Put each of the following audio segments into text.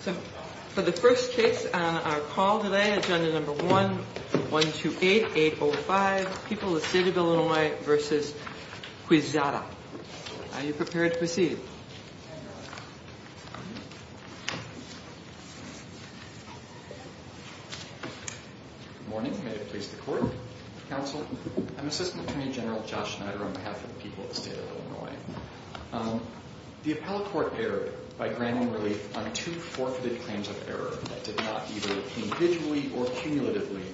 So for the first case on our call today, Agenda 1-128-805, People of the State of Illinois v. Quezada. Are you prepared to proceed? Good morning. May it please the Court, Counsel. I'm Assistant Attorney General Josh Schneider on behalf of the people of the State of Illinois. The appellate court erred by granting relief on two forfeited claims of error that did not either individually or cumulatively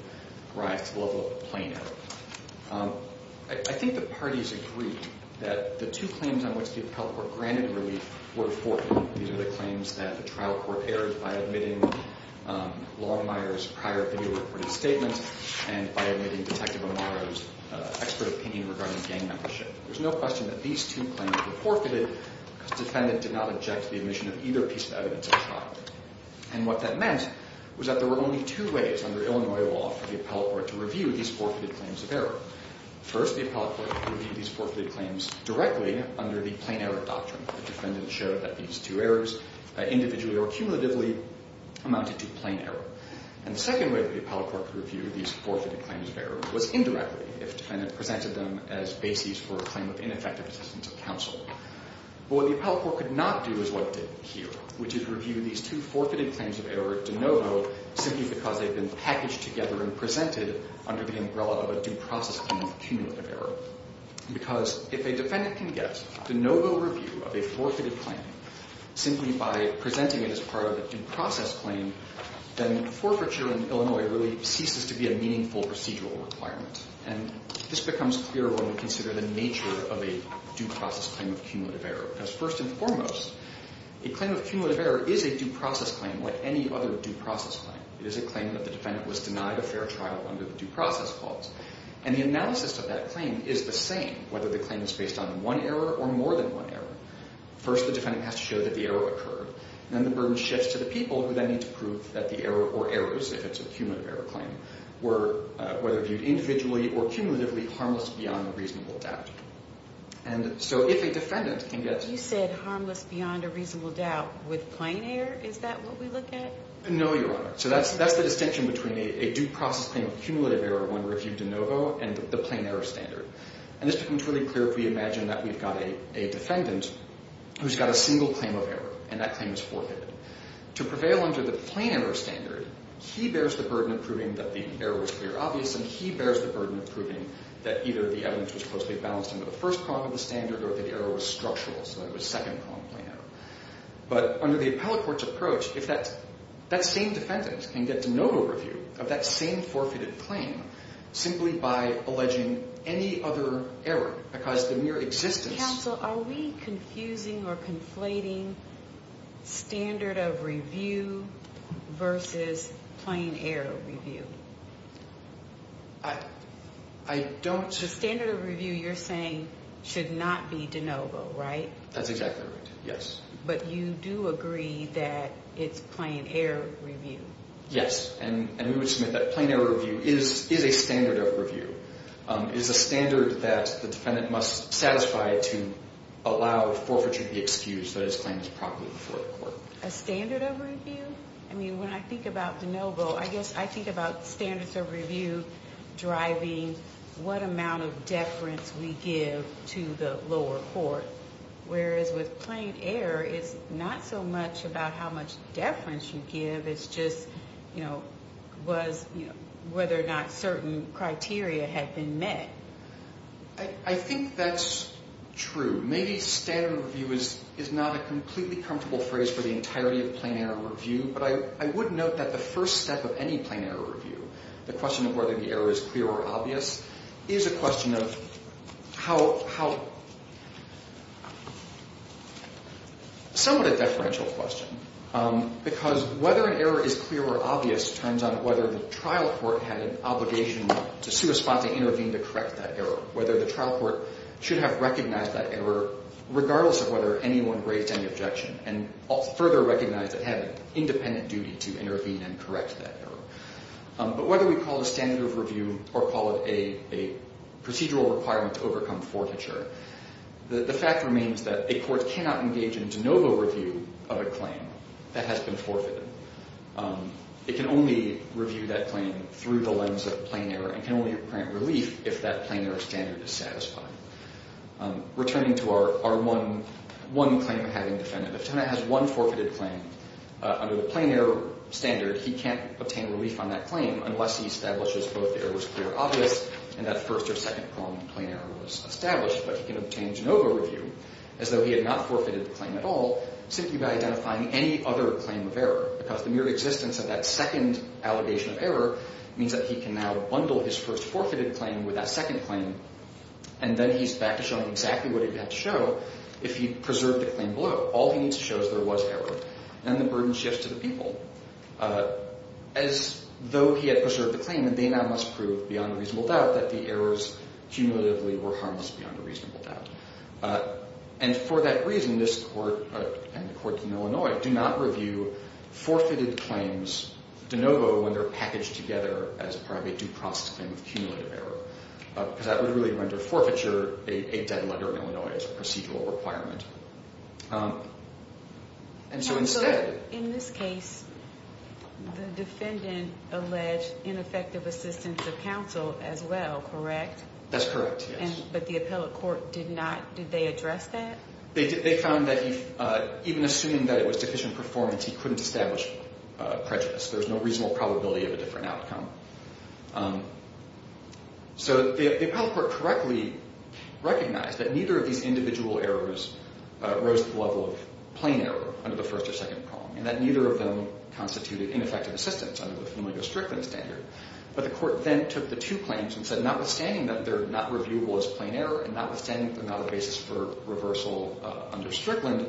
rise to the level of a plain error. I think the parties agree that the two claims on which the appellate court granted relief were forfeited. These are the claims that the trial court erred by admitting Longmire's prior video-recorded statement and by admitting Detective Amaro's expert opinion regarding gang membership. There's no question that these two claims were forfeited because the defendant did not object to the admission of either piece of evidence at trial. And what that meant was that there were only two ways under Illinois law for the appellate court to review these forfeited claims of error. First, the appellate court reviewed these forfeited claims directly under the plain error doctrine. The defendant showed that these two errors individually or cumulatively amounted to plain error. And the second way that the appellate court could review these forfeited claims of error was indirectly if the defendant presented them as bases for a claim of ineffective assistance of counsel. But what the appellate court could not do is what it did here, which is review these two forfeited claims of error de novo simply because they've been packaged together and presented under the umbrella of a due process claim of cumulative error. Because if a defendant can get de novo review of a forfeited claim simply by presenting it as part of a due process claim, then forfeiture in Illinois really ceases to be a meaningful procedural requirement. And this becomes clear when we consider the nature of a due process claim of cumulative error. Because first and foremost, a claim of cumulative error is a due process claim like any other due process claim. It is a claim that the defendant was denied a fair trial under the due process clause. And the analysis of that claim is the same whether the claim is based on one error or more than one error. First, the defendant has to show that the error occurred. Then the burden shifts to the people who then need to prove that the error or errors, if it's a cumulative error claim, were whether viewed individually or cumulatively harmless beyond a reasonable doubt. And so if a defendant can get... You said harmless beyond a reasonable doubt with plain error? Is that what we look at? No, Your Honor. So that's the distinction between a due process claim of cumulative error when reviewed de novo and the plain error standard. And this becomes really clear if we imagine that we've got a defendant who's got a single claim of error, and that claim is forfeited. To prevail under the plain error standard, he bears the burden of proving that the error was clear-obvious, and he bears the burden of proving that either the evidence was closely balanced under the first prong of the standard or that the error was structural, so it was second-prong plain error. But under the appellate court's approach, if that same defendant can get de novo review of that same forfeited claim simply by alleging any other error because the mere existence... Counsel, are we confusing or conflating standard of review versus plain error review? I don't... The standard of review you're saying should not be de novo, right? That's exactly right, yes. But you do agree that it's plain error review? Yes, and we would submit that plain error review is a standard of review. It is a standard that the defendant must satisfy to allow forfeiture to be excused so that his claim is properly before the court. A standard of review? I mean, when I think about de novo, I guess I think about standards of review driving what amount of deference we give to the lower court, whereas with plain error, it's not so much about how much deference you give. It's just, you know, was, you know, whether or not certain criteria had been met. I think that's true. Maybe standard review is not a completely comfortable phrase for the entirety of plain error review, but I would note that the first step of any plain error review, the question of whether the error is clear or obvious, is a question of how... to intervene to correct that error, whether the trial court should have recognized that error regardless of whether anyone raised any objection and further recognize it had independent duty to intervene and correct that error. But whether we call it a standard of review or call it a procedural requirement to overcome forfeiture, the fact remains that a court cannot engage in de novo review of a claim that has been forfeited. It can only review that claim through the lens of plain error and can only grant relief if that plain error standard is satisfying. Returning to our one claim of having defendant. If a defendant has one forfeited claim under the plain error standard, he can't obtain relief on that claim unless he establishes both errors clear or obvious and that first or second claim of plain error was established. But he can obtain de novo review as though he had not forfeited the claim at all simply by identifying any other claim of error because the mere existence of that second allegation of error means that he can now bundle his first forfeited claim with that second claim. And then he's back to showing exactly what he had to show if he preserved the claim below. All he needs to show is there was error. And the burden shifts to the people. As though he had preserved the claim, they now must prove beyond reasonable doubt that the errors cumulatively were harmless beyond a reasonable doubt. And for that reason, this court and the court in Illinois do not review forfeited claims de novo when they're packaged together as part of a due process claim of cumulative error. Because that would really render forfeiture a dead letter in Illinois as a procedural requirement. And so instead... In this case, the defendant alleged ineffective assistance of counsel as well, correct? That's correct, yes. But the appellate court did not, did they address that? They found that even assuming that it was deficient performance, he couldn't establish prejudice. There's no reasonable probability of a different outcome. So the appellate court correctly recognized that neither of these individual errors rose to the level of plain error under the first or second prong. And that neither of them constituted ineffective assistance under the familiar Strickland standard. But the court then took the two claims and said notwithstanding that they're not reviewable as plain error and notwithstanding they're not a basis for reversal under Strickland,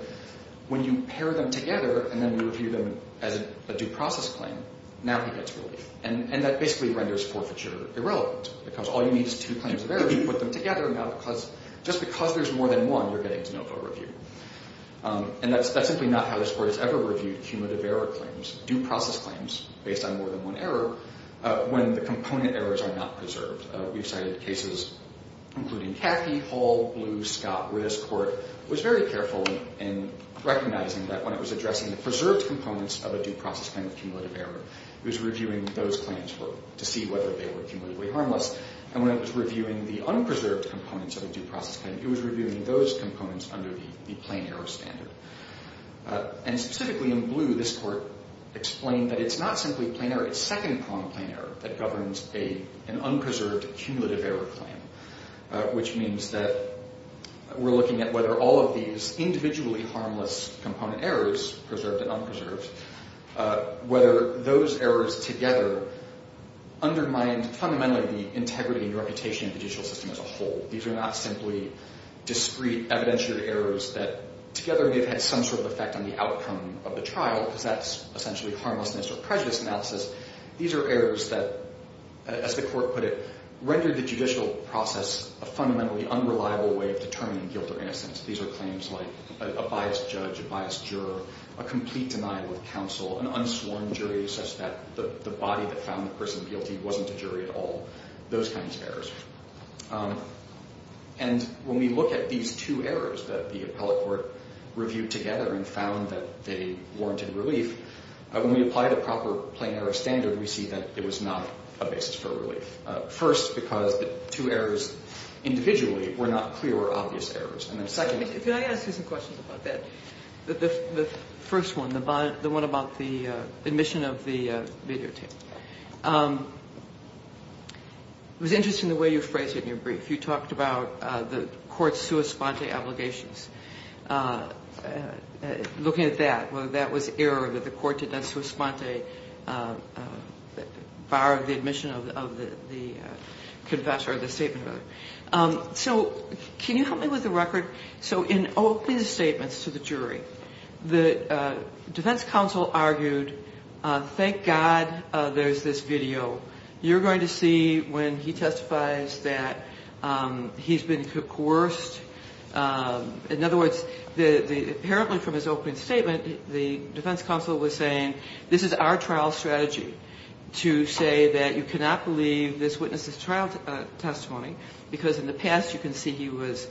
when you pair them together and then review them as a due process claim, now he gets relief. And that basically renders forfeiture irrelevant. Because all you need is two claims of error, you put them together, and now just because there's more than one, you're getting a no-vote review. And that's simply not how this court has ever reviewed cumulative error claims, due process claims based on more than one error, when the component errors are not preserved. We've cited cases including Cathy Hall, Blue, Scott, where this court was very careful in recognizing that when it was addressing the preserved components of a due process claim of cumulative error, it was reviewing those claims to see whether they were cumulatively harmless. And when it was reviewing the unpreserved components of a due process claim, it was reviewing those components under the plain error standard. And specifically in Blue, this court explained that it's not simply plain error, it's second prong plain error that governs an unpreserved cumulative error claim, which means that we're looking at whether all of these individually harmless component errors, preserved and unpreserved, whether those errors together undermined fundamentally the integrity and reputation of the judicial system as a whole. These are not simply discrete evidentiary errors that together may have had some sort of effect on the outcome of the trial, because that's essentially harmlessness or prejudice analysis. These are errors that, as the court put it, rendered the judicial process a fundamentally unreliable way of determining guilt or innocence. These are claims like a biased judge, a biased juror, a complete denial of counsel, an unsworn jury such that the body that found the person guilty wasn't a jury at all, those kinds of errors. And when we look at these two errors that the appellate court reviewed together and found that they warranted relief, when we apply the proper plain error standard, we see that it was not a basis for relief. First, because the two errors individually were not clear or obvious errors. And then secondly — Can I ask you some questions about that? The first one, the one about the admission of the videotape, it was interesting the way you phrased it in your brief. You talked about the court's sua sponte obligations. Looking at that, that was error that the court did not sua sponte, bar the admission of the confession or the statement of error. So can you help me with the record? So in Oakley's statements to the jury, the defense counsel argued, thank God there's this video. You're going to see when he testifies that he's been coerced. In other words, apparently from his opening statement, the defense counsel was saying this is our trial strategy to say that you cannot believe this witness' trial testimony because in the past you can see he was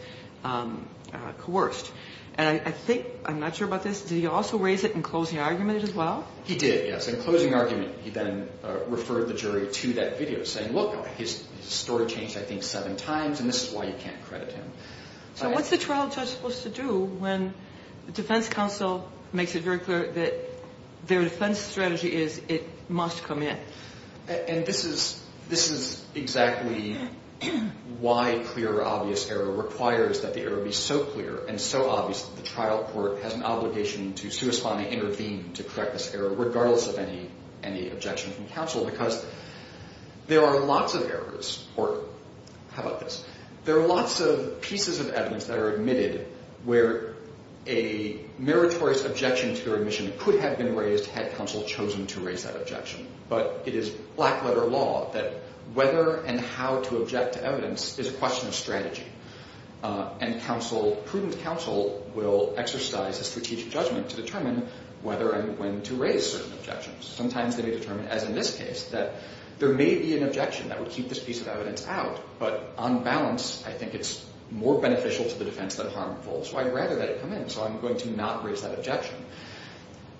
coerced. And I think, I'm not sure about this, did he also raise it in closing argument as well? He did, yes. In closing argument, he then referred the jury to that video saying, look, his story changed I think seven times and this is why you can't credit him. So what's the trial judge supposed to do when the defense counsel makes it very clear that their defense strategy is it must come in? And this is exactly why clear, obvious error requires that the error be so clear and so obvious that the trial court has an obligation to sua sponte, intervene to correct this error regardless of any objection from counsel. Because there are lots of errors, or how about this, there are lots of pieces of evidence that are admitted where a meritorious objection to their admission could have been raised had counsel chosen to raise that objection. But it is black letter law that whether and how to object to evidence is a question of strategy. And counsel, prudent counsel will exercise a strategic judgment to determine whether and when to raise certain objections. Sometimes they may determine, as in this case, that there may be an objection that would keep this piece of evidence out. But on balance, I think it's more beneficial to the defense than harmful. So I'd rather that it come in. So I'm going to not raise that objection.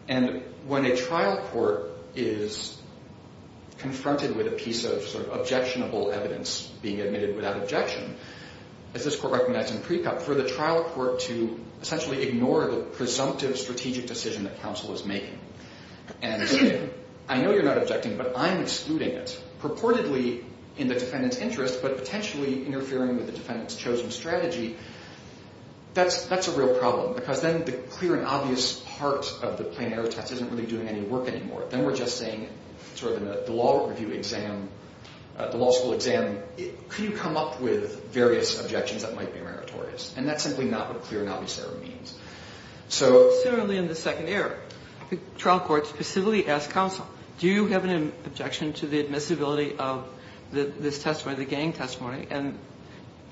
And when a trial court is confronted with a piece of sort of objectionable evidence being admitted without objection, as this court recognized in pre-court, for the trial court to essentially ignore the presumptive strategic decision that counsel is making. And say, I know you're not objecting, but I'm excluding it. Purportedly in the defendant's interest, but potentially interfering with the defendant's chosen strategy, that's a real problem. Because then the clear and obvious part of the plain error test isn't really doing any work anymore. Then we're just saying, sort of in the law review exam, the law school exam, can you come up with various objections that might be meritorious? And that's simply not what clear and obvious error means. So similarly in the second error, the trial court specifically asked counsel, do you have an objection to the admissibility of this testimony, the gang testimony? And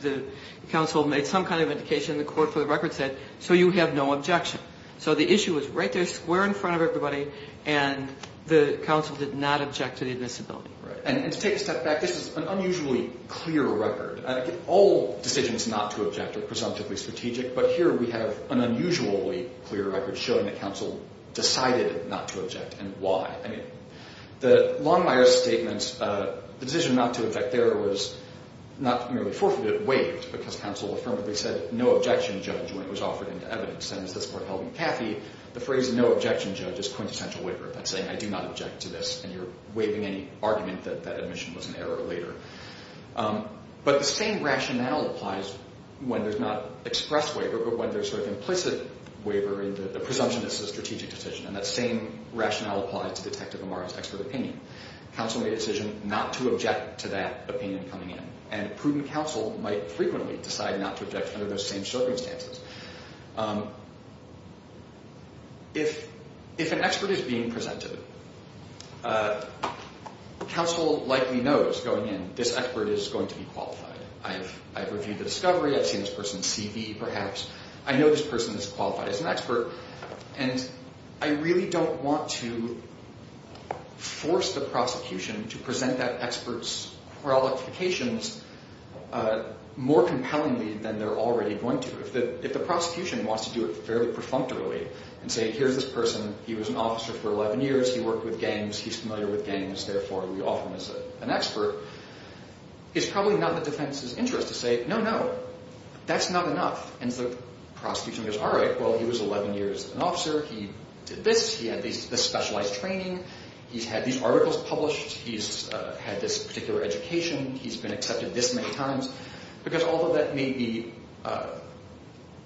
the counsel made some kind of indication, and the court for the record said, so you have no objection. So the issue was right there, square in front of everybody, and the counsel did not object to the admissibility. And to take a step back, this is an unusually clear record. All decisions not to object are presumptively strategic, but here we have an unusually clear record showing that counsel decided not to object, and why. I mean, Longmire's statement, the decision not to object there was not merely forfeited, waived, because counsel affirmably said, no objection, judge, when it was offered into evidence. And as this court held in Caffey, the phrase, no objection, judge, is quintessential waiver. That's saying, I do not object to this, and you're waiving any argument that that admission was an error later. But the same rationale applies when there's not express waiver, but when there's sort of implicit waiver, and the presumption is a strategic decision, and that same rationale applies to Detective Amari's expert opinion. Counsel made a decision not to object to that opinion coming in, and a prudent counsel might frequently decide not to object under those same circumstances. If an expert is being presented, counsel likely knows going in, this expert is going to be qualified. I've reviewed the discovery, I've seen this person's CV perhaps, I know this person is qualified as an expert, and I really don't want to force the prosecution to present that expert's qualifications more compellingly than they're already going to. If the prosecution wants to do it fairly perfunctorily, and say, here's this person, he was an officer for 11 years, he worked with gangs, he's familiar with gangs, therefore we offer him as an expert, it's probably not in the defense's interest to say, no, no, that's not enough. And so the prosecution goes, all right, well, he was 11 years an officer, he did this, he had this specialized training, he's had these articles published, he's had this particular education, he's been accepted this many times, because although that may be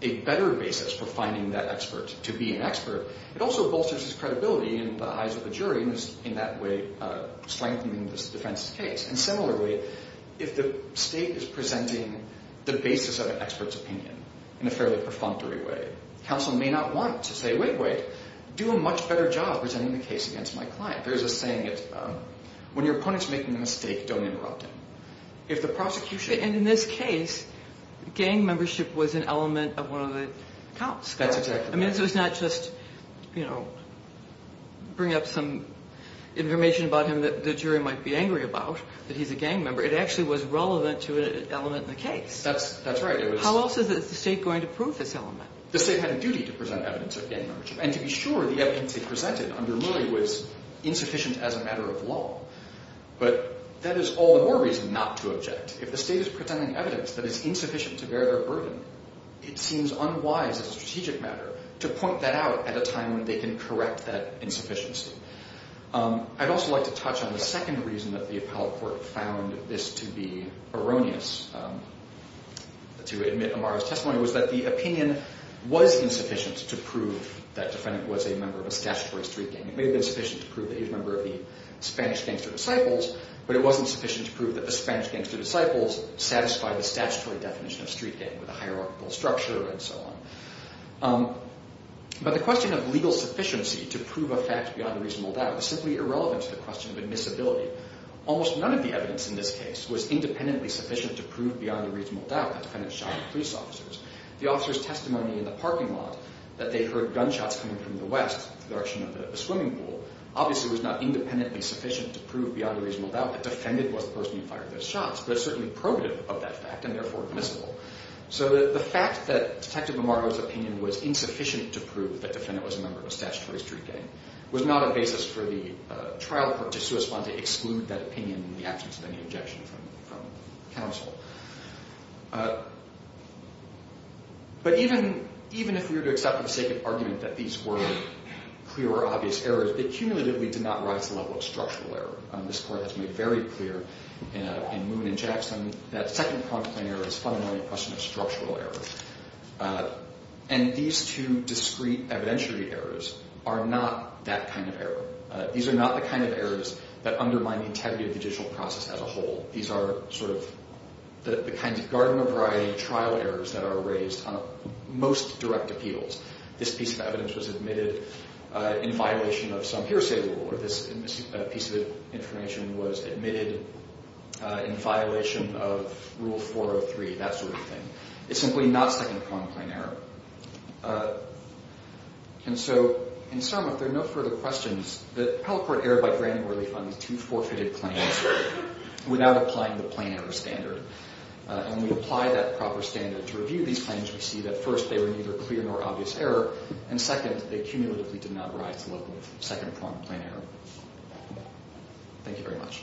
a better basis for finding that expert to be an expert, it also bolsters his credibility in the eyes of the jury, in that way strengthening this defense's case. And similarly, if the state is presenting the basis of an expert's opinion in a fairly perfunctory way, counsel may not want to say, wait, wait, do a much better job presenting the case against my client. There's a saying, when your opponent's making a mistake, don't interrupt him. If the prosecution... And in this case, gang membership was an element of one of the counts. That's exactly right. I mean, so it's not just, you know, bring up some information about him that the jury might be angry about, that he's a gang member, it actually was relevant to an element in the case. That's right. How else is the state going to prove this element? The state had a duty to present evidence of gang membership, and to be sure, the evidence they presented under Murray was insufficient as a matter of law. But that is all the more reason not to object. If the state is presenting evidence that is insufficient to bear their burden, it seems unwise as a strategic matter to point that out at a time when they can correct that insufficiency. I'd also like to touch on the second reason that the appellate court found this to be erroneous, to admit Amara's testimony, was that the opinion was insufficient to prove that Defendant was a member of a statutory street gang. It may have been sufficient to prove that he was a member of the Spanish Gangster Disciples, but it wasn't sufficient to prove that the Spanish Gangster Disciples satisfied the statutory definition of street gang with a hierarchical structure and so on. But the question of legal sufficiency to prove a fact beyond a reasonable doubt is simply irrelevant to the question of admissibility. Almost none of the evidence in this case was independently sufficient to prove beyond a reasonable doubt that Defendant shot at police officers. The officers' testimony in the parking lot that they heard gunshots coming from the west, the direction of the swimming pool, obviously was not independently sufficient to prove beyond a reasonable doubt that Defendant was the person who fired those shots, but it's certainly probative of that fact and therefore admissible. So the fact that Detective Amara's opinion was insufficient to prove that Defendant was a member of a statutory street gang was not a basis for the trial court to suspend to exclude that opinion in the absence of any objection from counsel. But even if we were to accept for the sake of argument that these were clear or obvious errors, they cumulatively did not rise to the level of structural error. This court has made very clear in Moon and Jackson that second prompt plain error is fundamentally a question of structural error. And these two discrete evidentiary errors are not that kind of error. These are not the kind of errors that undermine the integrity of the judicial process as a whole. These are sort of the kinds of garden-of-variety trial errors that are raised on most direct appeals. This piece of evidence was admitted in violation of some hearsay rule, or this piece of information was admitted in violation of Rule 403, that sort of thing. It's simply not second prompt plain error. And so in sum, if there are no further questions, the appellate court erred by granting or refunding two forfeited claims without applying the plain error standard. And when we apply that proper standard to review these claims, we see that first they were neither clear nor obvious error, and second, they cumulatively did not rise to the level of second prompt plain error. Thank you very much.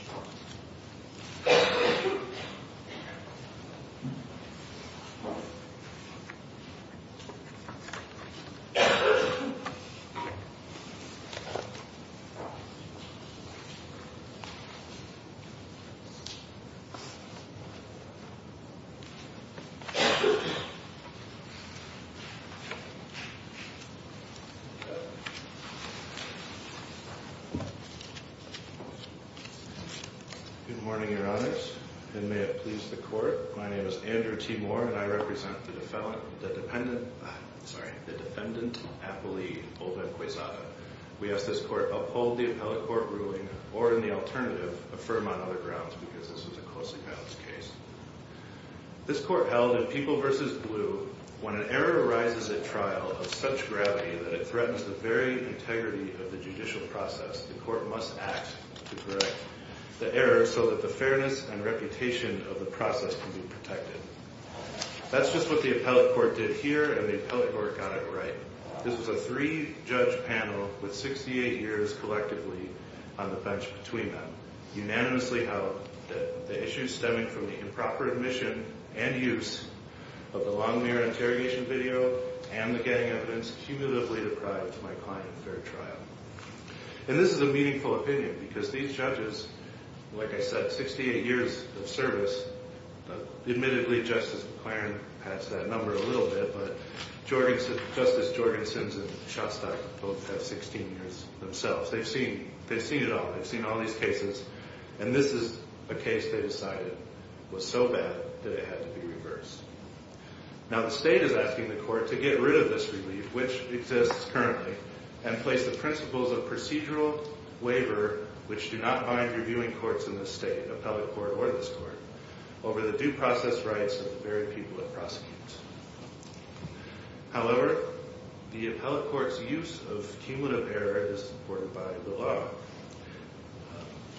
Good morning, Your Honors, and may it please the court. My name is Andrew T. Moore, and I represent the defendant appellee, Oldman Quezada. We ask this court uphold the appellate court ruling or, in the alternative, affirm on other grounds because this is a closely balanced case. This court held in People v. Blue, when an error arises at trial of such gravity that it threatens the very integrity of the judicial process, the court must act to correct the error so that the fairness and reputation of the process can be protected. That's just what the appellate court did here, and the appellate court got it right. This was a three-judge panel with 68 years collectively on the bench between them, unanimously held that the issues stemming from the improper admission and use of the Longmere interrogation video and the gang evidence cumulatively deprived my client of fair trial. And this is a meaningful opinion because these judges, like I said, 68 years of service. Admittedly, Justice McClaren pats that number a little bit, but Justice Jorgensen and Shostak both have 16 years themselves. They've seen it all. They've seen all these cases. And this is a case they decided was so bad that it had to be reversed. Now the state is asking the court to get rid of this relief, which exists currently, and place the principles of procedural waiver, which do not bind reviewing courts in this state, appellate court or this court, over the due process rights of the very people it prosecutes. However, the appellate court's use of cumulative error is supported by the law.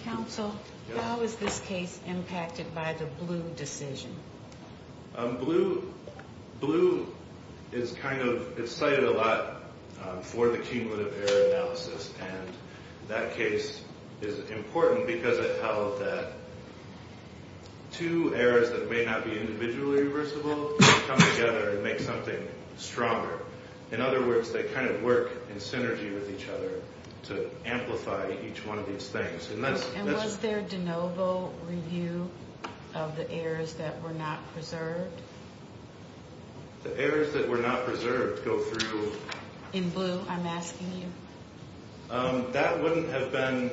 Counsel, how is this case impacted by the Bluh decision? Bluh is kind of cited a lot for the cumulative error analysis, and that case is important because it held that two errors that may not be individually reversible come together and make something stronger. In other words, they kind of work in synergy with each other to amplify each one of these things. And was there de novo review of the errors that were not preserved? The errors that were not preserved go through... In Bluh, I'm asking you? That wouldn't have been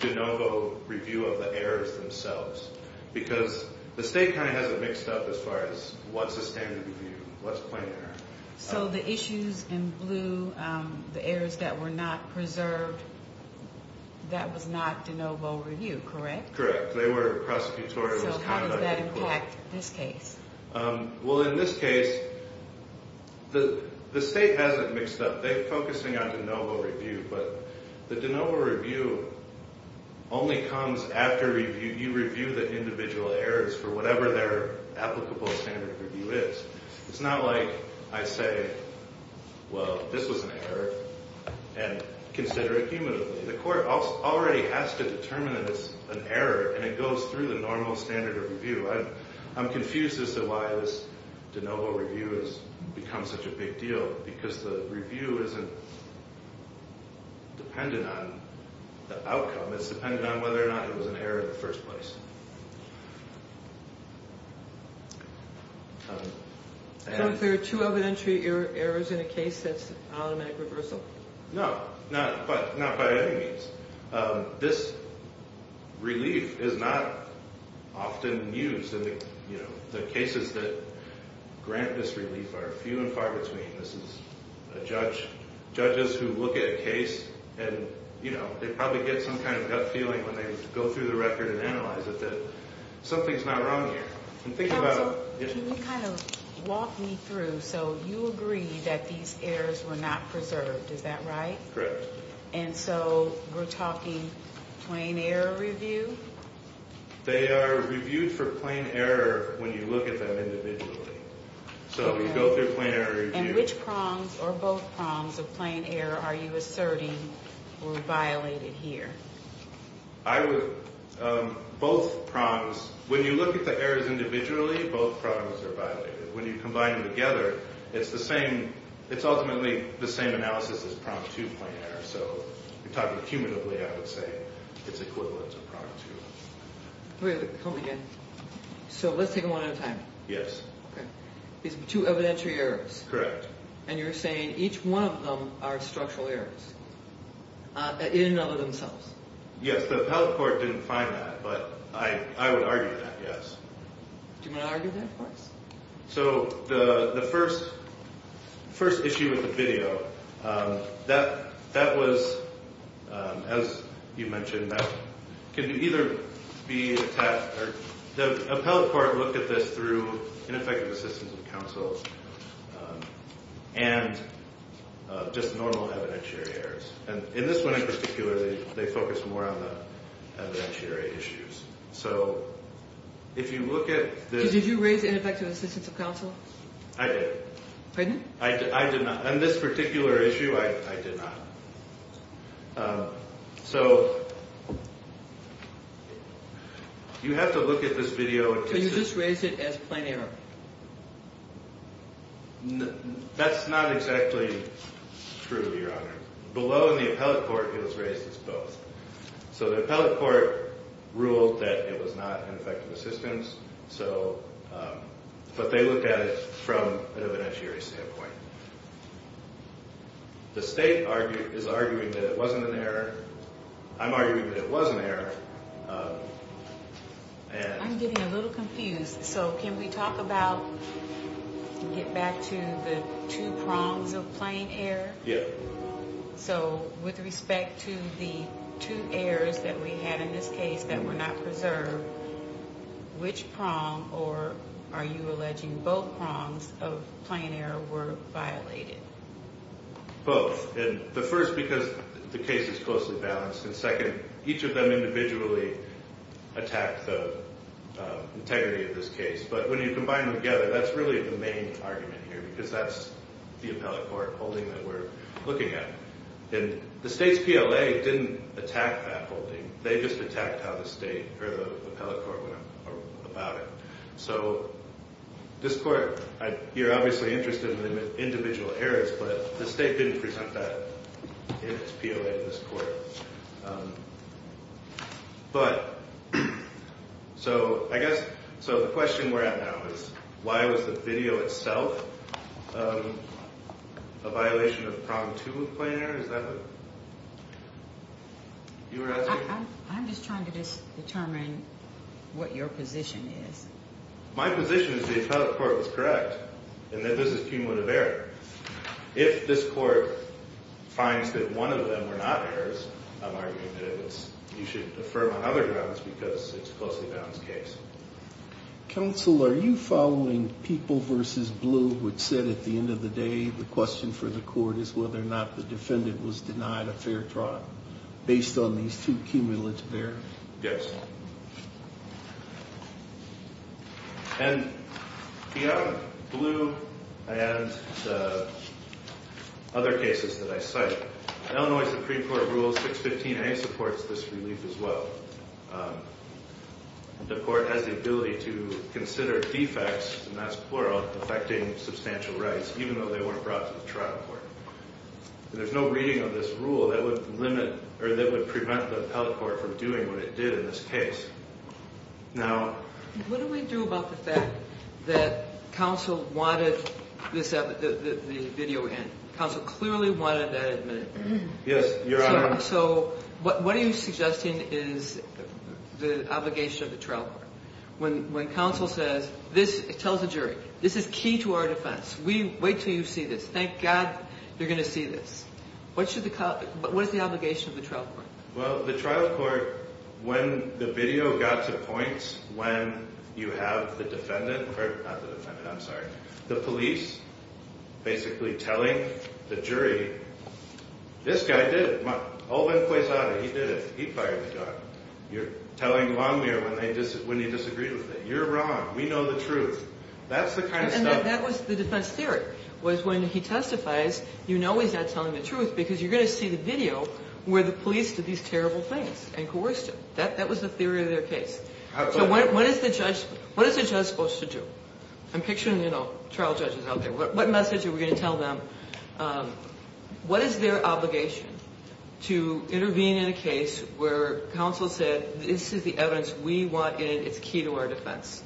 de novo review of the errors themselves because the state kind of has it mixed up as far as what's a standard review, what's plain error. So the issues in Bluh, the errors that were not preserved, that was not de novo review, correct? Correct. They were prosecutorial. So how does that impact this case? Well, in this case, the state has it mixed up. They're focusing on de novo review, but the de novo review only comes after you review the individual errors for whatever their applicable standard review is. It's not like I say, well, this was an error, and consider it cumulatively. The court already has to determine that it's an error, and it goes through the normal standard of review. I'm confused as to why this de novo review has become such a big deal because the review isn't dependent on the outcome. It's dependent on whether or not it was an error in the first place. So if there are two evidentiary errors in a case, that's automatic reversal? No, not by any means. This relief is not often used. The cases that grant this relief are few and far between. This is judges who look at a case, and they probably get some kind of gut feeling when they go through the record and analyze it that something's not wrong here. Counsel, can you kind of walk me through? So you agree that these errors were not preserved, is that right? Correct. And so we're talking plain error review? They are reviewed for plain error when you look at them individually. So you go through plain error review. And which prongs or both prongs of plain error are you asserting were violated here? Both prongs. When you look at the errors individually, both prongs are violated. When you combine them together, it's the same. It's ultimately the same analysis as pronged two-point error. So if you're talking cumulatively, I would say it's equivalent to pronged two. Wait a minute. Tell me again. So let's take them one at a time. Yes. Okay. These are two evidentiary errors. Correct. And you're saying each one of them are structural errors in and of themselves? Yes. The appellate court didn't find that, but I would argue that, yes. Do you want to argue that, of course? So the first issue of the video, that was, as you mentioned, that could either be attached or The appellate court looked at this through ineffective assistance of counsel and just normal evidentiary errors. And in this one in particular, they focused more on the evidentiary issues. So if you look at the Did you raise ineffective assistance of counsel? I did. Pardon? I did not. On this particular issue, I did not. So you have to look at this video. So you just raised it as plain error? That's not exactly true, Your Honor. Below in the appellate court, it was raised as both. So the appellate court ruled that it was not ineffective assistance, but they looked at it from an evidentiary standpoint. The state is arguing that it wasn't an error. I'm arguing that it was an error. I'm getting a little confused. So can we talk about, get back to the two prongs of plain error? Yeah. So with respect to the two errors that we had in this case that were not preserved, which prong or are you alleging both prongs of plain error were violated? Both. And the first, because the case is closely balanced. And second, each of them individually attacked the integrity of this case. But when you combine them together, that's really the main argument here, because that's the appellate court holding that we're looking at. And the state's PLA didn't attack that holding. They just attacked how the state or the appellate court went about it. So this court, you're obviously interested in the individual errors, but the state didn't present that in its PLA to this court. But so I guess, so the question we're at now is why was the video itself a violation of prong two of plain error? Is that what you were asking? I'm just trying to determine what your position is. My position is the appellate court was correct in that this is cumulative error. If this court finds that one of them were not errors, I'm arguing that you should affirm on other grounds because it's a closely balanced case. Counsel, are you following people versus blue, which said at the end of the day, the question for the court is whether or not the defendant was denied a fair trial based on these two cumulative errors? Yes. And the blue and other cases that I cite, Illinois Supreme Court Rule 615A supports this relief as well. The court has the ability to consider defects, and that's plural, affecting substantial rights, even though they weren't brought to the trial court. There's no reading of this rule that would limit or that would prevent the appellate court from doing what it did in this case. Now, what do we do about the fact that counsel wanted the video in? Counsel clearly wanted that admitted. Yes, Your Honor. So what are you suggesting is the obligation of the trial court? When counsel says, this tells the jury, this is key to our defense. We wait till you see this. Thank God you're going to see this. What should the – what is the obligation of the trial court? Well, the trial court, when the video got to points when you have the defendant – not the defendant, I'm sorry – the police basically telling the jury, this guy did it. Olven-Pueyzade, he did it. He fired the gun. You're telling Longmire when he disagreed with it. You're wrong. We know the truth. That's the kind of stuff – And that was the defense theory, was when he testifies, you know he's not telling the truth because you're going to see the video where the police did these terrible things and coerced him. That was the theory of their case. So what is the judge supposed to do? I'm picturing, you know, trial judges out there. What message are we going to tell them? What is their obligation to intervene in a case where counsel said this is the evidence we want and it's key to our defense?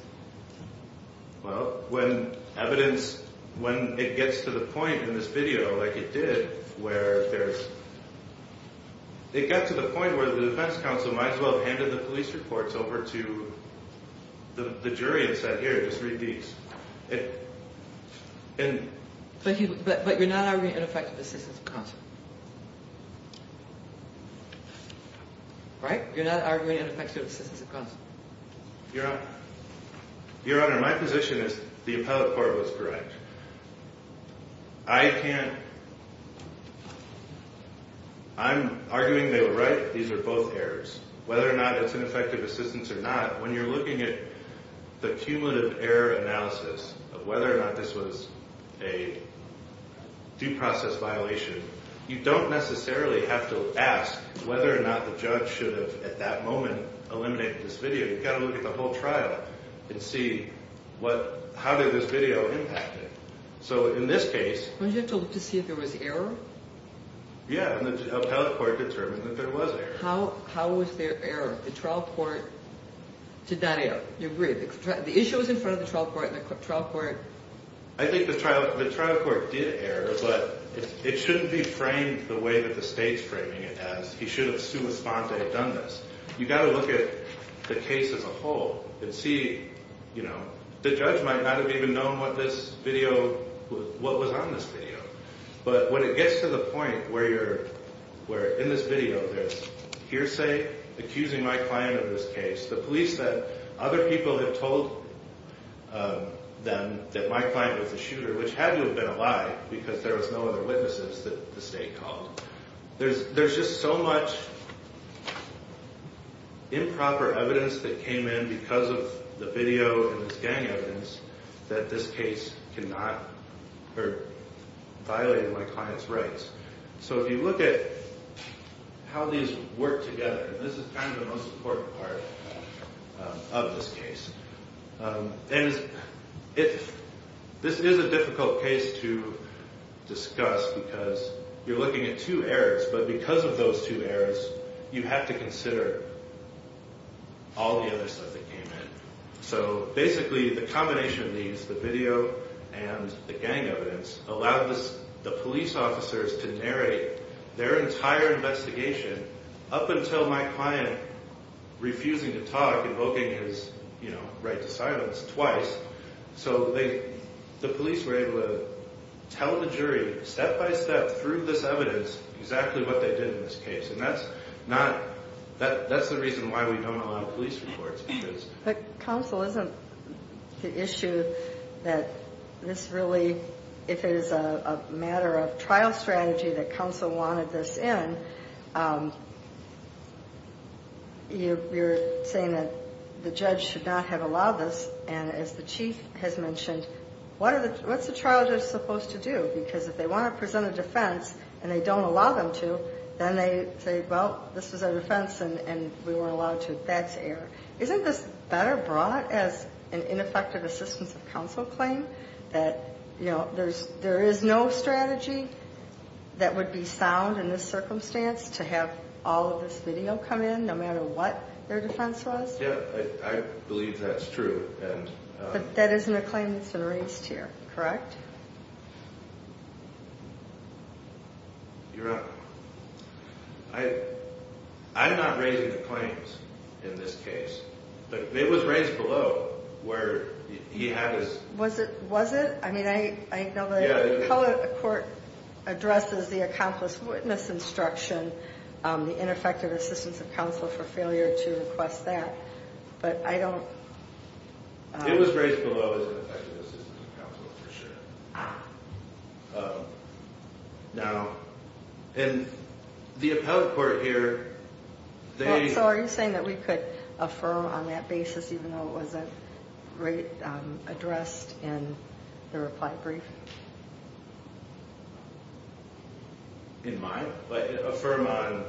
Well, when evidence – when it gets to the point in this video like it did where there's – it got to the point where the defense counsel might as well have handed the police reports over to the jury and said, here, just read these. But you're not arguing ineffective assistance of counsel. Right? You're not arguing ineffective assistance of counsel. Your Honor, my position is the appellate court was correct. I can't – I'm arguing they were right. These are both errors. Whether or not it's ineffective assistance or not, when you're looking at the cumulative error analysis of whether or not this was a due process violation, you don't necessarily have to ask whether or not the judge should have at that moment eliminated this video. You've got to look at the whole trial and see what – how did this video impact it. So in this case – Weren't you told to see if there was error? Yeah, and the appellate court determined that there was error. How was there error? The trial court – Did not err. You agree. The issue was in front of the trial court and the trial court – I think the trial court did err, but it shouldn't be framed the way that the state's framing it as he should have sua sponte done this. You've got to look at the case as a whole and see – the judge might not have even known what this video – what was on this video. But when it gets to the point where you're – where in this video there's hearsay accusing my client of this case, the police said other people had told them that my client was the shooter, which had to have been a lie because there was no other witnesses that the state called. There's just so much improper evidence that came in because of the video and this gang evidence that this case cannot – or violated my client's rights. So if you look at how these work together, this is kind of the most important part of this case. And this is a difficult case to discuss because you're looking at two errors, but because of those two errors, you have to consider all the other stuff that came in. So basically the combination of these, the video and the gang evidence, allowed the police officers to narrate their entire investigation up until my client refusing to talk, invoking his right to silence twice. So the police were able to tell the jury step-by-step through this evidence exactly what they did in this case. And that's not – that's the reason why we don't allow police reports. But counsel, isn't the issue that this really – if it is a matter of trial strategy that counsel wanted this in, you're saying that the judge should not have allowed this. And as the chief has mentioned, what are the – what's the trial judge supposed to do? Because if they want to present a defense and they don't allow them to, then they say, well, this is a defense and we weren't allowed to. That's error. Isn't this better brought as an ineffective assistance of counsel claim that, you know, there is no strategy that would be sound in this circumstance to have all of this video come in no matter what their defense was? Yeah, I believe that's true. But that isn't a claim that's been raised here, correct? You're right. I'm not raising the claims in this case. But it was raised below where he had his – Was it? I mean, I know the appellate court addresses the accomplice witness instruction, the ineffective assistance of counsel for failure to request that. But I don't – It was raised below as ineffective assistance of counsel, for sure. Now, in the appellate court here, they – In the reply brief. In my – affirm on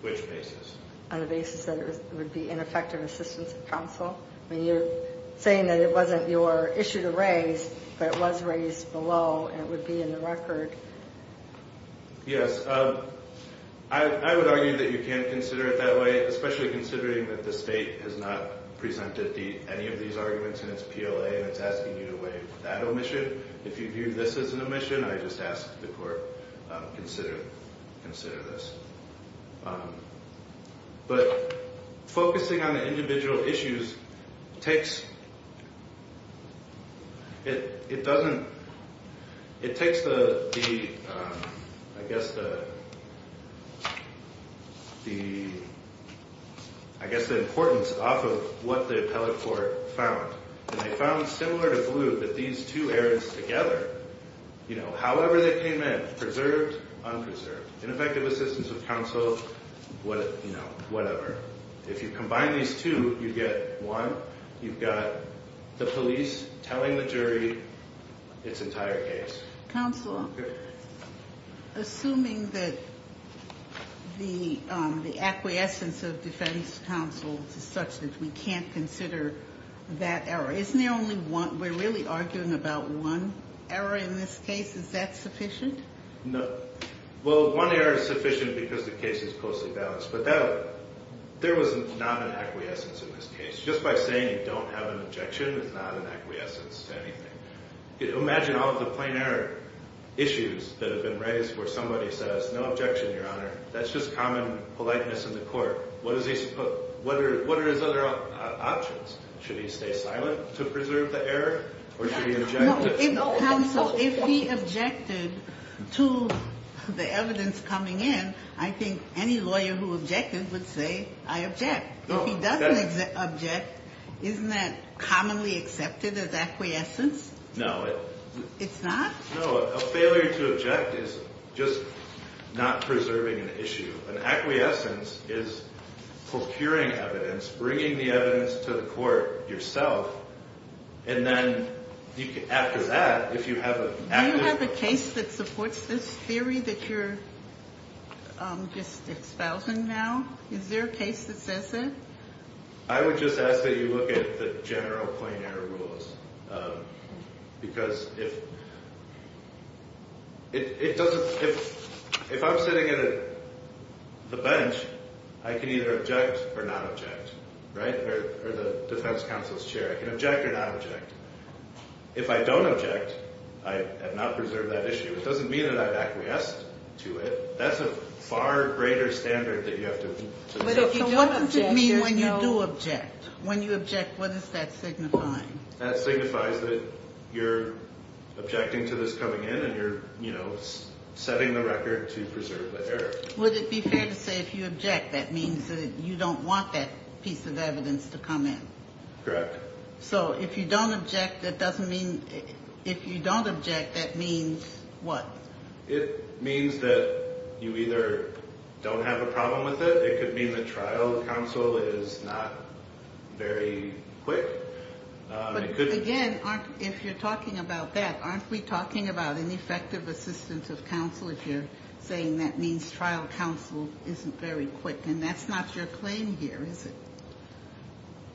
which basis? On the basis that it would be ineffective assistance of counsel. I mean, you're saying that it wasn't your issue to raise, but it was raised below and it would be in the record. Yes. I would argue that you can't consider it that way, especially considering that the state has not presented any of these arguments in its PLA and it's asking you to weigh that omission. If you view this as an omission, I just ask the court consider this. But focusing on the individual issues takes – It doesn't – It takes the – I guess the importance off of what the appellate court found. And they found similar to Blue that these two errors together, you know, however they came in, preserved, unpreserved. Ineffective assistance of counsel, you know, whatever. If you combine these two, you get one. You've got the police telling the jury its entire case. Counsel, assuming that the acquiescence of defense counsel is such that we can't consider that error, isn't there only one? We're really arguing about one error in this case. Is that sufficient? No. Well, one error is sufficient because the case is closely balanced. But that – there was not an acquiescence in this case. Just by saying you don't have an objection is not an acquiescence to anything. Imagine all of the plain error issues that have been raised where somebody says no objection, Your Honor. That's just common politeness in the court. What are his other options? Should he stay silent to preserve the error or should he object? Counsel, if he objected to the evidence coming in, I think any lawyer who objected would say I object. If he doesn't object, isn't that commonly accepted as acquiescence? No. It's not? No. A failure to object is just not preserving an issue. An acquiescence is procuring evidence, bringing the evidence to the court yourself, and then after that, if you have an active – Do you have a case that supports this theory that you're just espousing now? Is there a case that says that? I would just ask that you look at the general plain error rules because if – it doesn't – if I'm sitting at the bench, I can either object or not object. Right? Or the defense counsel's chair, I can object or not object. If I don't object, I have not preserved that issue. It doesn't mean that I've acquiesced to it. That's a far greater standard that you have to – So what does it mean when you do object? When you object, what does that signify? That signifies that you're objecting to this coming in and you're, you know, setting the record to preserve the error. Would it be fair to say if you object, that means that you don't want that piece of evidence to come in? Correct. So if you don't object, that doesn't mean – if you don't object, that means what? It means that you either don't have a problem with it. It could mean the trial counsel is not very quick. But again, aren't – if you're talking about that, aren't we talking about ineffective assistance of counsel if you're saying that means trial counsel isn't very quick? And that's not your claim here, is it?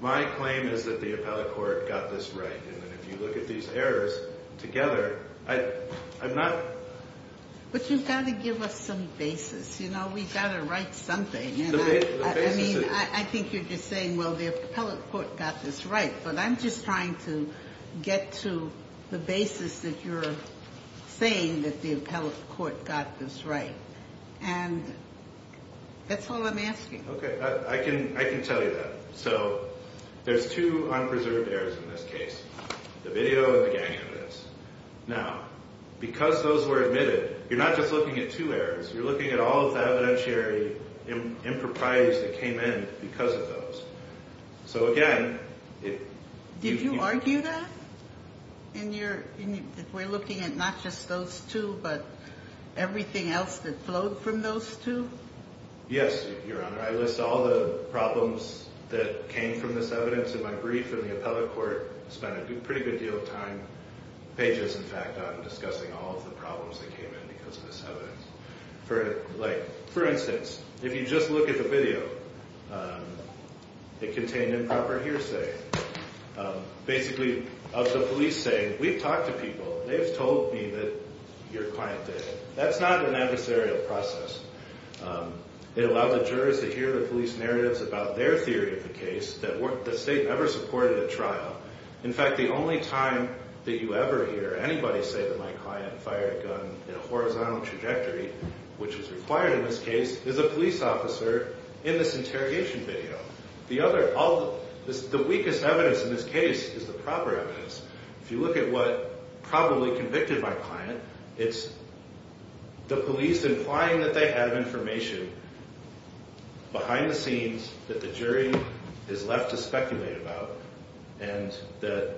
My claim is that the appellate court got this right. And if you look at these errors together, I'm not – But you've got to give us some basis. You know, we've got to write something. I mean, I think you're just saying, well, the appellate court got this right. But I'm just trying to get to the basis that you're saying that the appellate court got this right. And that's all I'm asking. Okay. I can tell you that. So there's two unpreserved errors in this case, the video and the gang evidence. Now, because those were admitted, you're not just looking at two errors. You're looking at all of the evidentiary improprieties that came in because of those. So, again, if you – Did you argue that in your – if we're looking at not just those two but everything else that flowed from those two? Yes, Your Honor. I list all the problems that came from this evidence in my brief. And the appellate court spent a pretty good deal of time, pages, in fact, on discussing all of the problems that came in because of this evidence. Like, for instance, if you just look at the video, it contained improper hearsay. Basically, of the police saying, we've talked to people. They've told me that you're quiet today. That's not an adversarial process. It allowed the jurors to hear the police narratives about their theory of the case that the state never supported at trial. In fact, the only time that you ever hear anybody say that my client fired a gun in a horizontal trajectory, which was required in this case, is a police officer in this interrogation video. The other – the weakest evidence in this case is the proper evidence. If you look at what probably convicted my client, it's the police implying that they have information behind the scenes that the jury is left to speculate about and that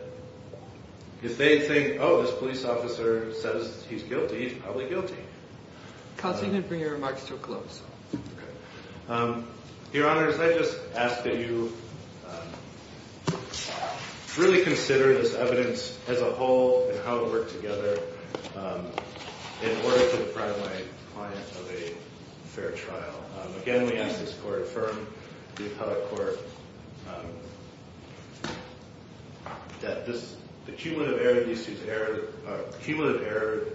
if they think, oh, this police officer says he's guilty, he's probably guilty. Counsel, you can bring your remarks to a close. Your Honors, I just ask that you really consider this evidence as a whole and how it worked together in order to deprive my client of a fair trial. Again, we ask this court to affirm, the appellate court, that this – cumulative error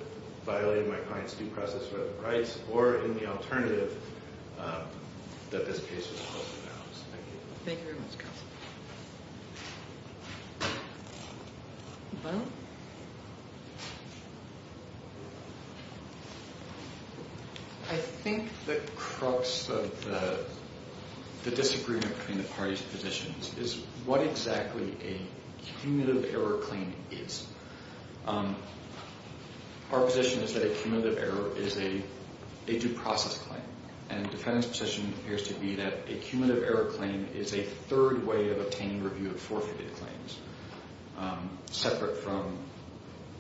violating my client's due process for other rights, or in the alternative, that this case is closed and announced. Thank you. Thank you very much, Counsel. I think the crux of the disagreement between the parties' positions is what exactly a cumulative error claim is. Our position is that a cumulative error is a due process claim. And the defendant's position appears to be that a cumulative error claim is a third way of obtaining review of forfeited claims, separate from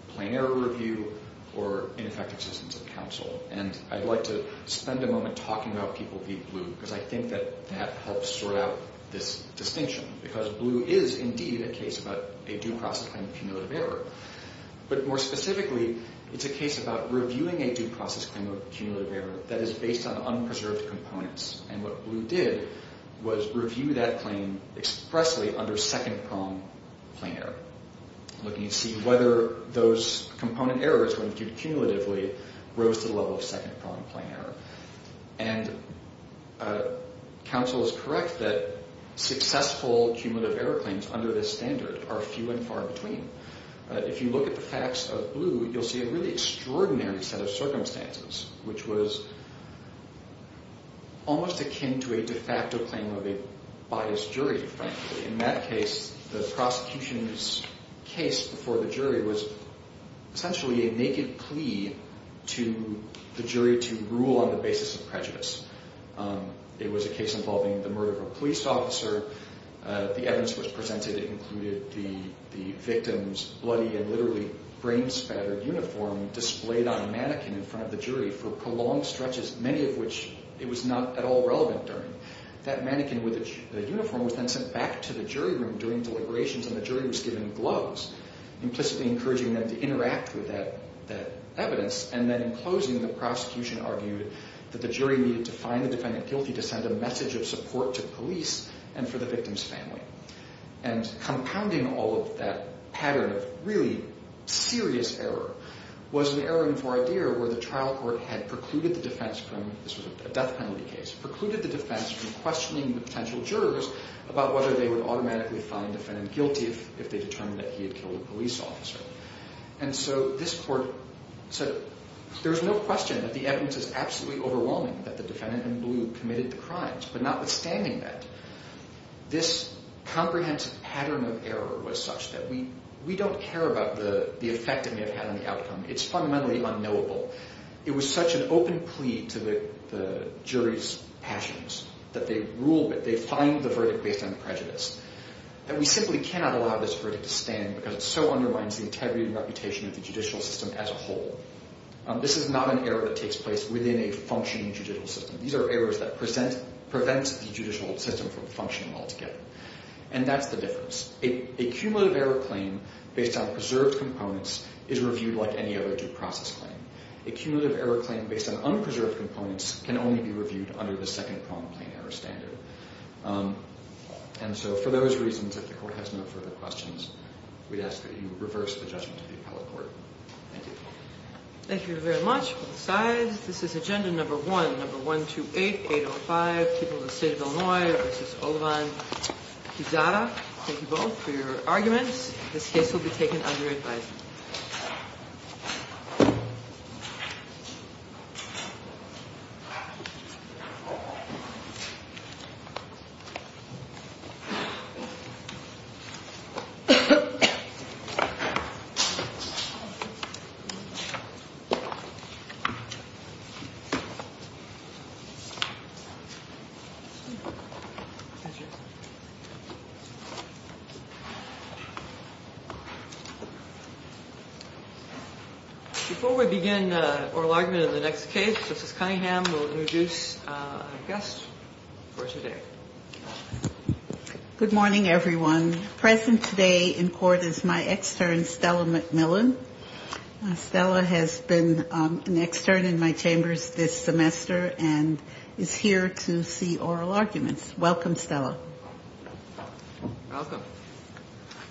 plain error review or ineffective assistance of counsel. And I'd like to spend a moment talking about people being blue, because I think that that helps sort out this distinction. Because blue is indeed a case about a due process claim of cumulative error. But more specifically, it's a case about reviewing a due process claim of cumulative error that is based on unpreserved components. And what blue did was review that claim expressly under second-prong plain error, looking to see whether those component errors, when viewed cumulatively, rose to the level of second-prong plain error. And counsel is correct that successful cumulative error claims under this standard are few and far between. If you look at the facts of blue, you'll see a really extraordinary set of circumstances, which was almost akin to a de facto claim of a biased jury, frankly. In that case, the prosecution's case before the jury was essentially a naked plea to the jury to rule on the basis of prejudice. It was a case involving the murder of a police officer. The evidence which was presented included the victim's bloody and literally brain-spattered uniform displayed on a mannequin in front of the jury for prolonged stretches, many of which it was not at all relevant during. That mannequin with the uniform was then sent back to the jury room during deliberations, and the jury was given gloves, implicitly encouraging them to interact with that evidence. And then in closing, the prosecution argued that the jury needed to find the defendant guilty to send a message of support to police and for the victim's family. And compounding all of that pattern of really serious error was an error in voir dire where the trial court had precluded the defense from, this was a death penalty case, precluded the defense from questioning the potential jurors about whether they would automatically find the defendant guilty if they determined that he had killed a police officer. And so this court said, there's no question that the evidence is absolutely overwhelming that the defendant in blue committed the crimes, but notwithstanding that, this comprehensive pattern of error was such that we don't care about the effect it may have had on the outcome. It's fundamentally unknowable. It was such an open plea to the jury's passions that they ruled that they find the verdict based on prejudice. And we simply cannot allow this verdict to stand because it so undermines the integrity and reputation of the judicial system as a whole. This is not an error that takes place within a functioning judicial system. These are errors that prevent the judicial system from functioning altogether. And that's the difference. A cumulative error claim based on preserved components is reviewed like any other due process claim. A cumulative error claim based on unpreserved components can only be reviewed under the second problem claim error standard. And so for those reasons, if the court has no further questions, we'd ask that you reverse the judgment of the appellate court. Thank you. Thank you very much. Both sides. This is agenda number one, number 128805, people of the state of Illinois versus Olivine. Kizara, thank you both for your arguments. This case will be taken under advisement. Before we begin the oral argument in the next case, Justice Cunningham will introduce our guest for today. Good morning, everyone. Present today in court is my extern, Stella McMillan. Stella has been an extern in my chambers this semester and is here to see oral arguments. Welcome, Stella. Welcome.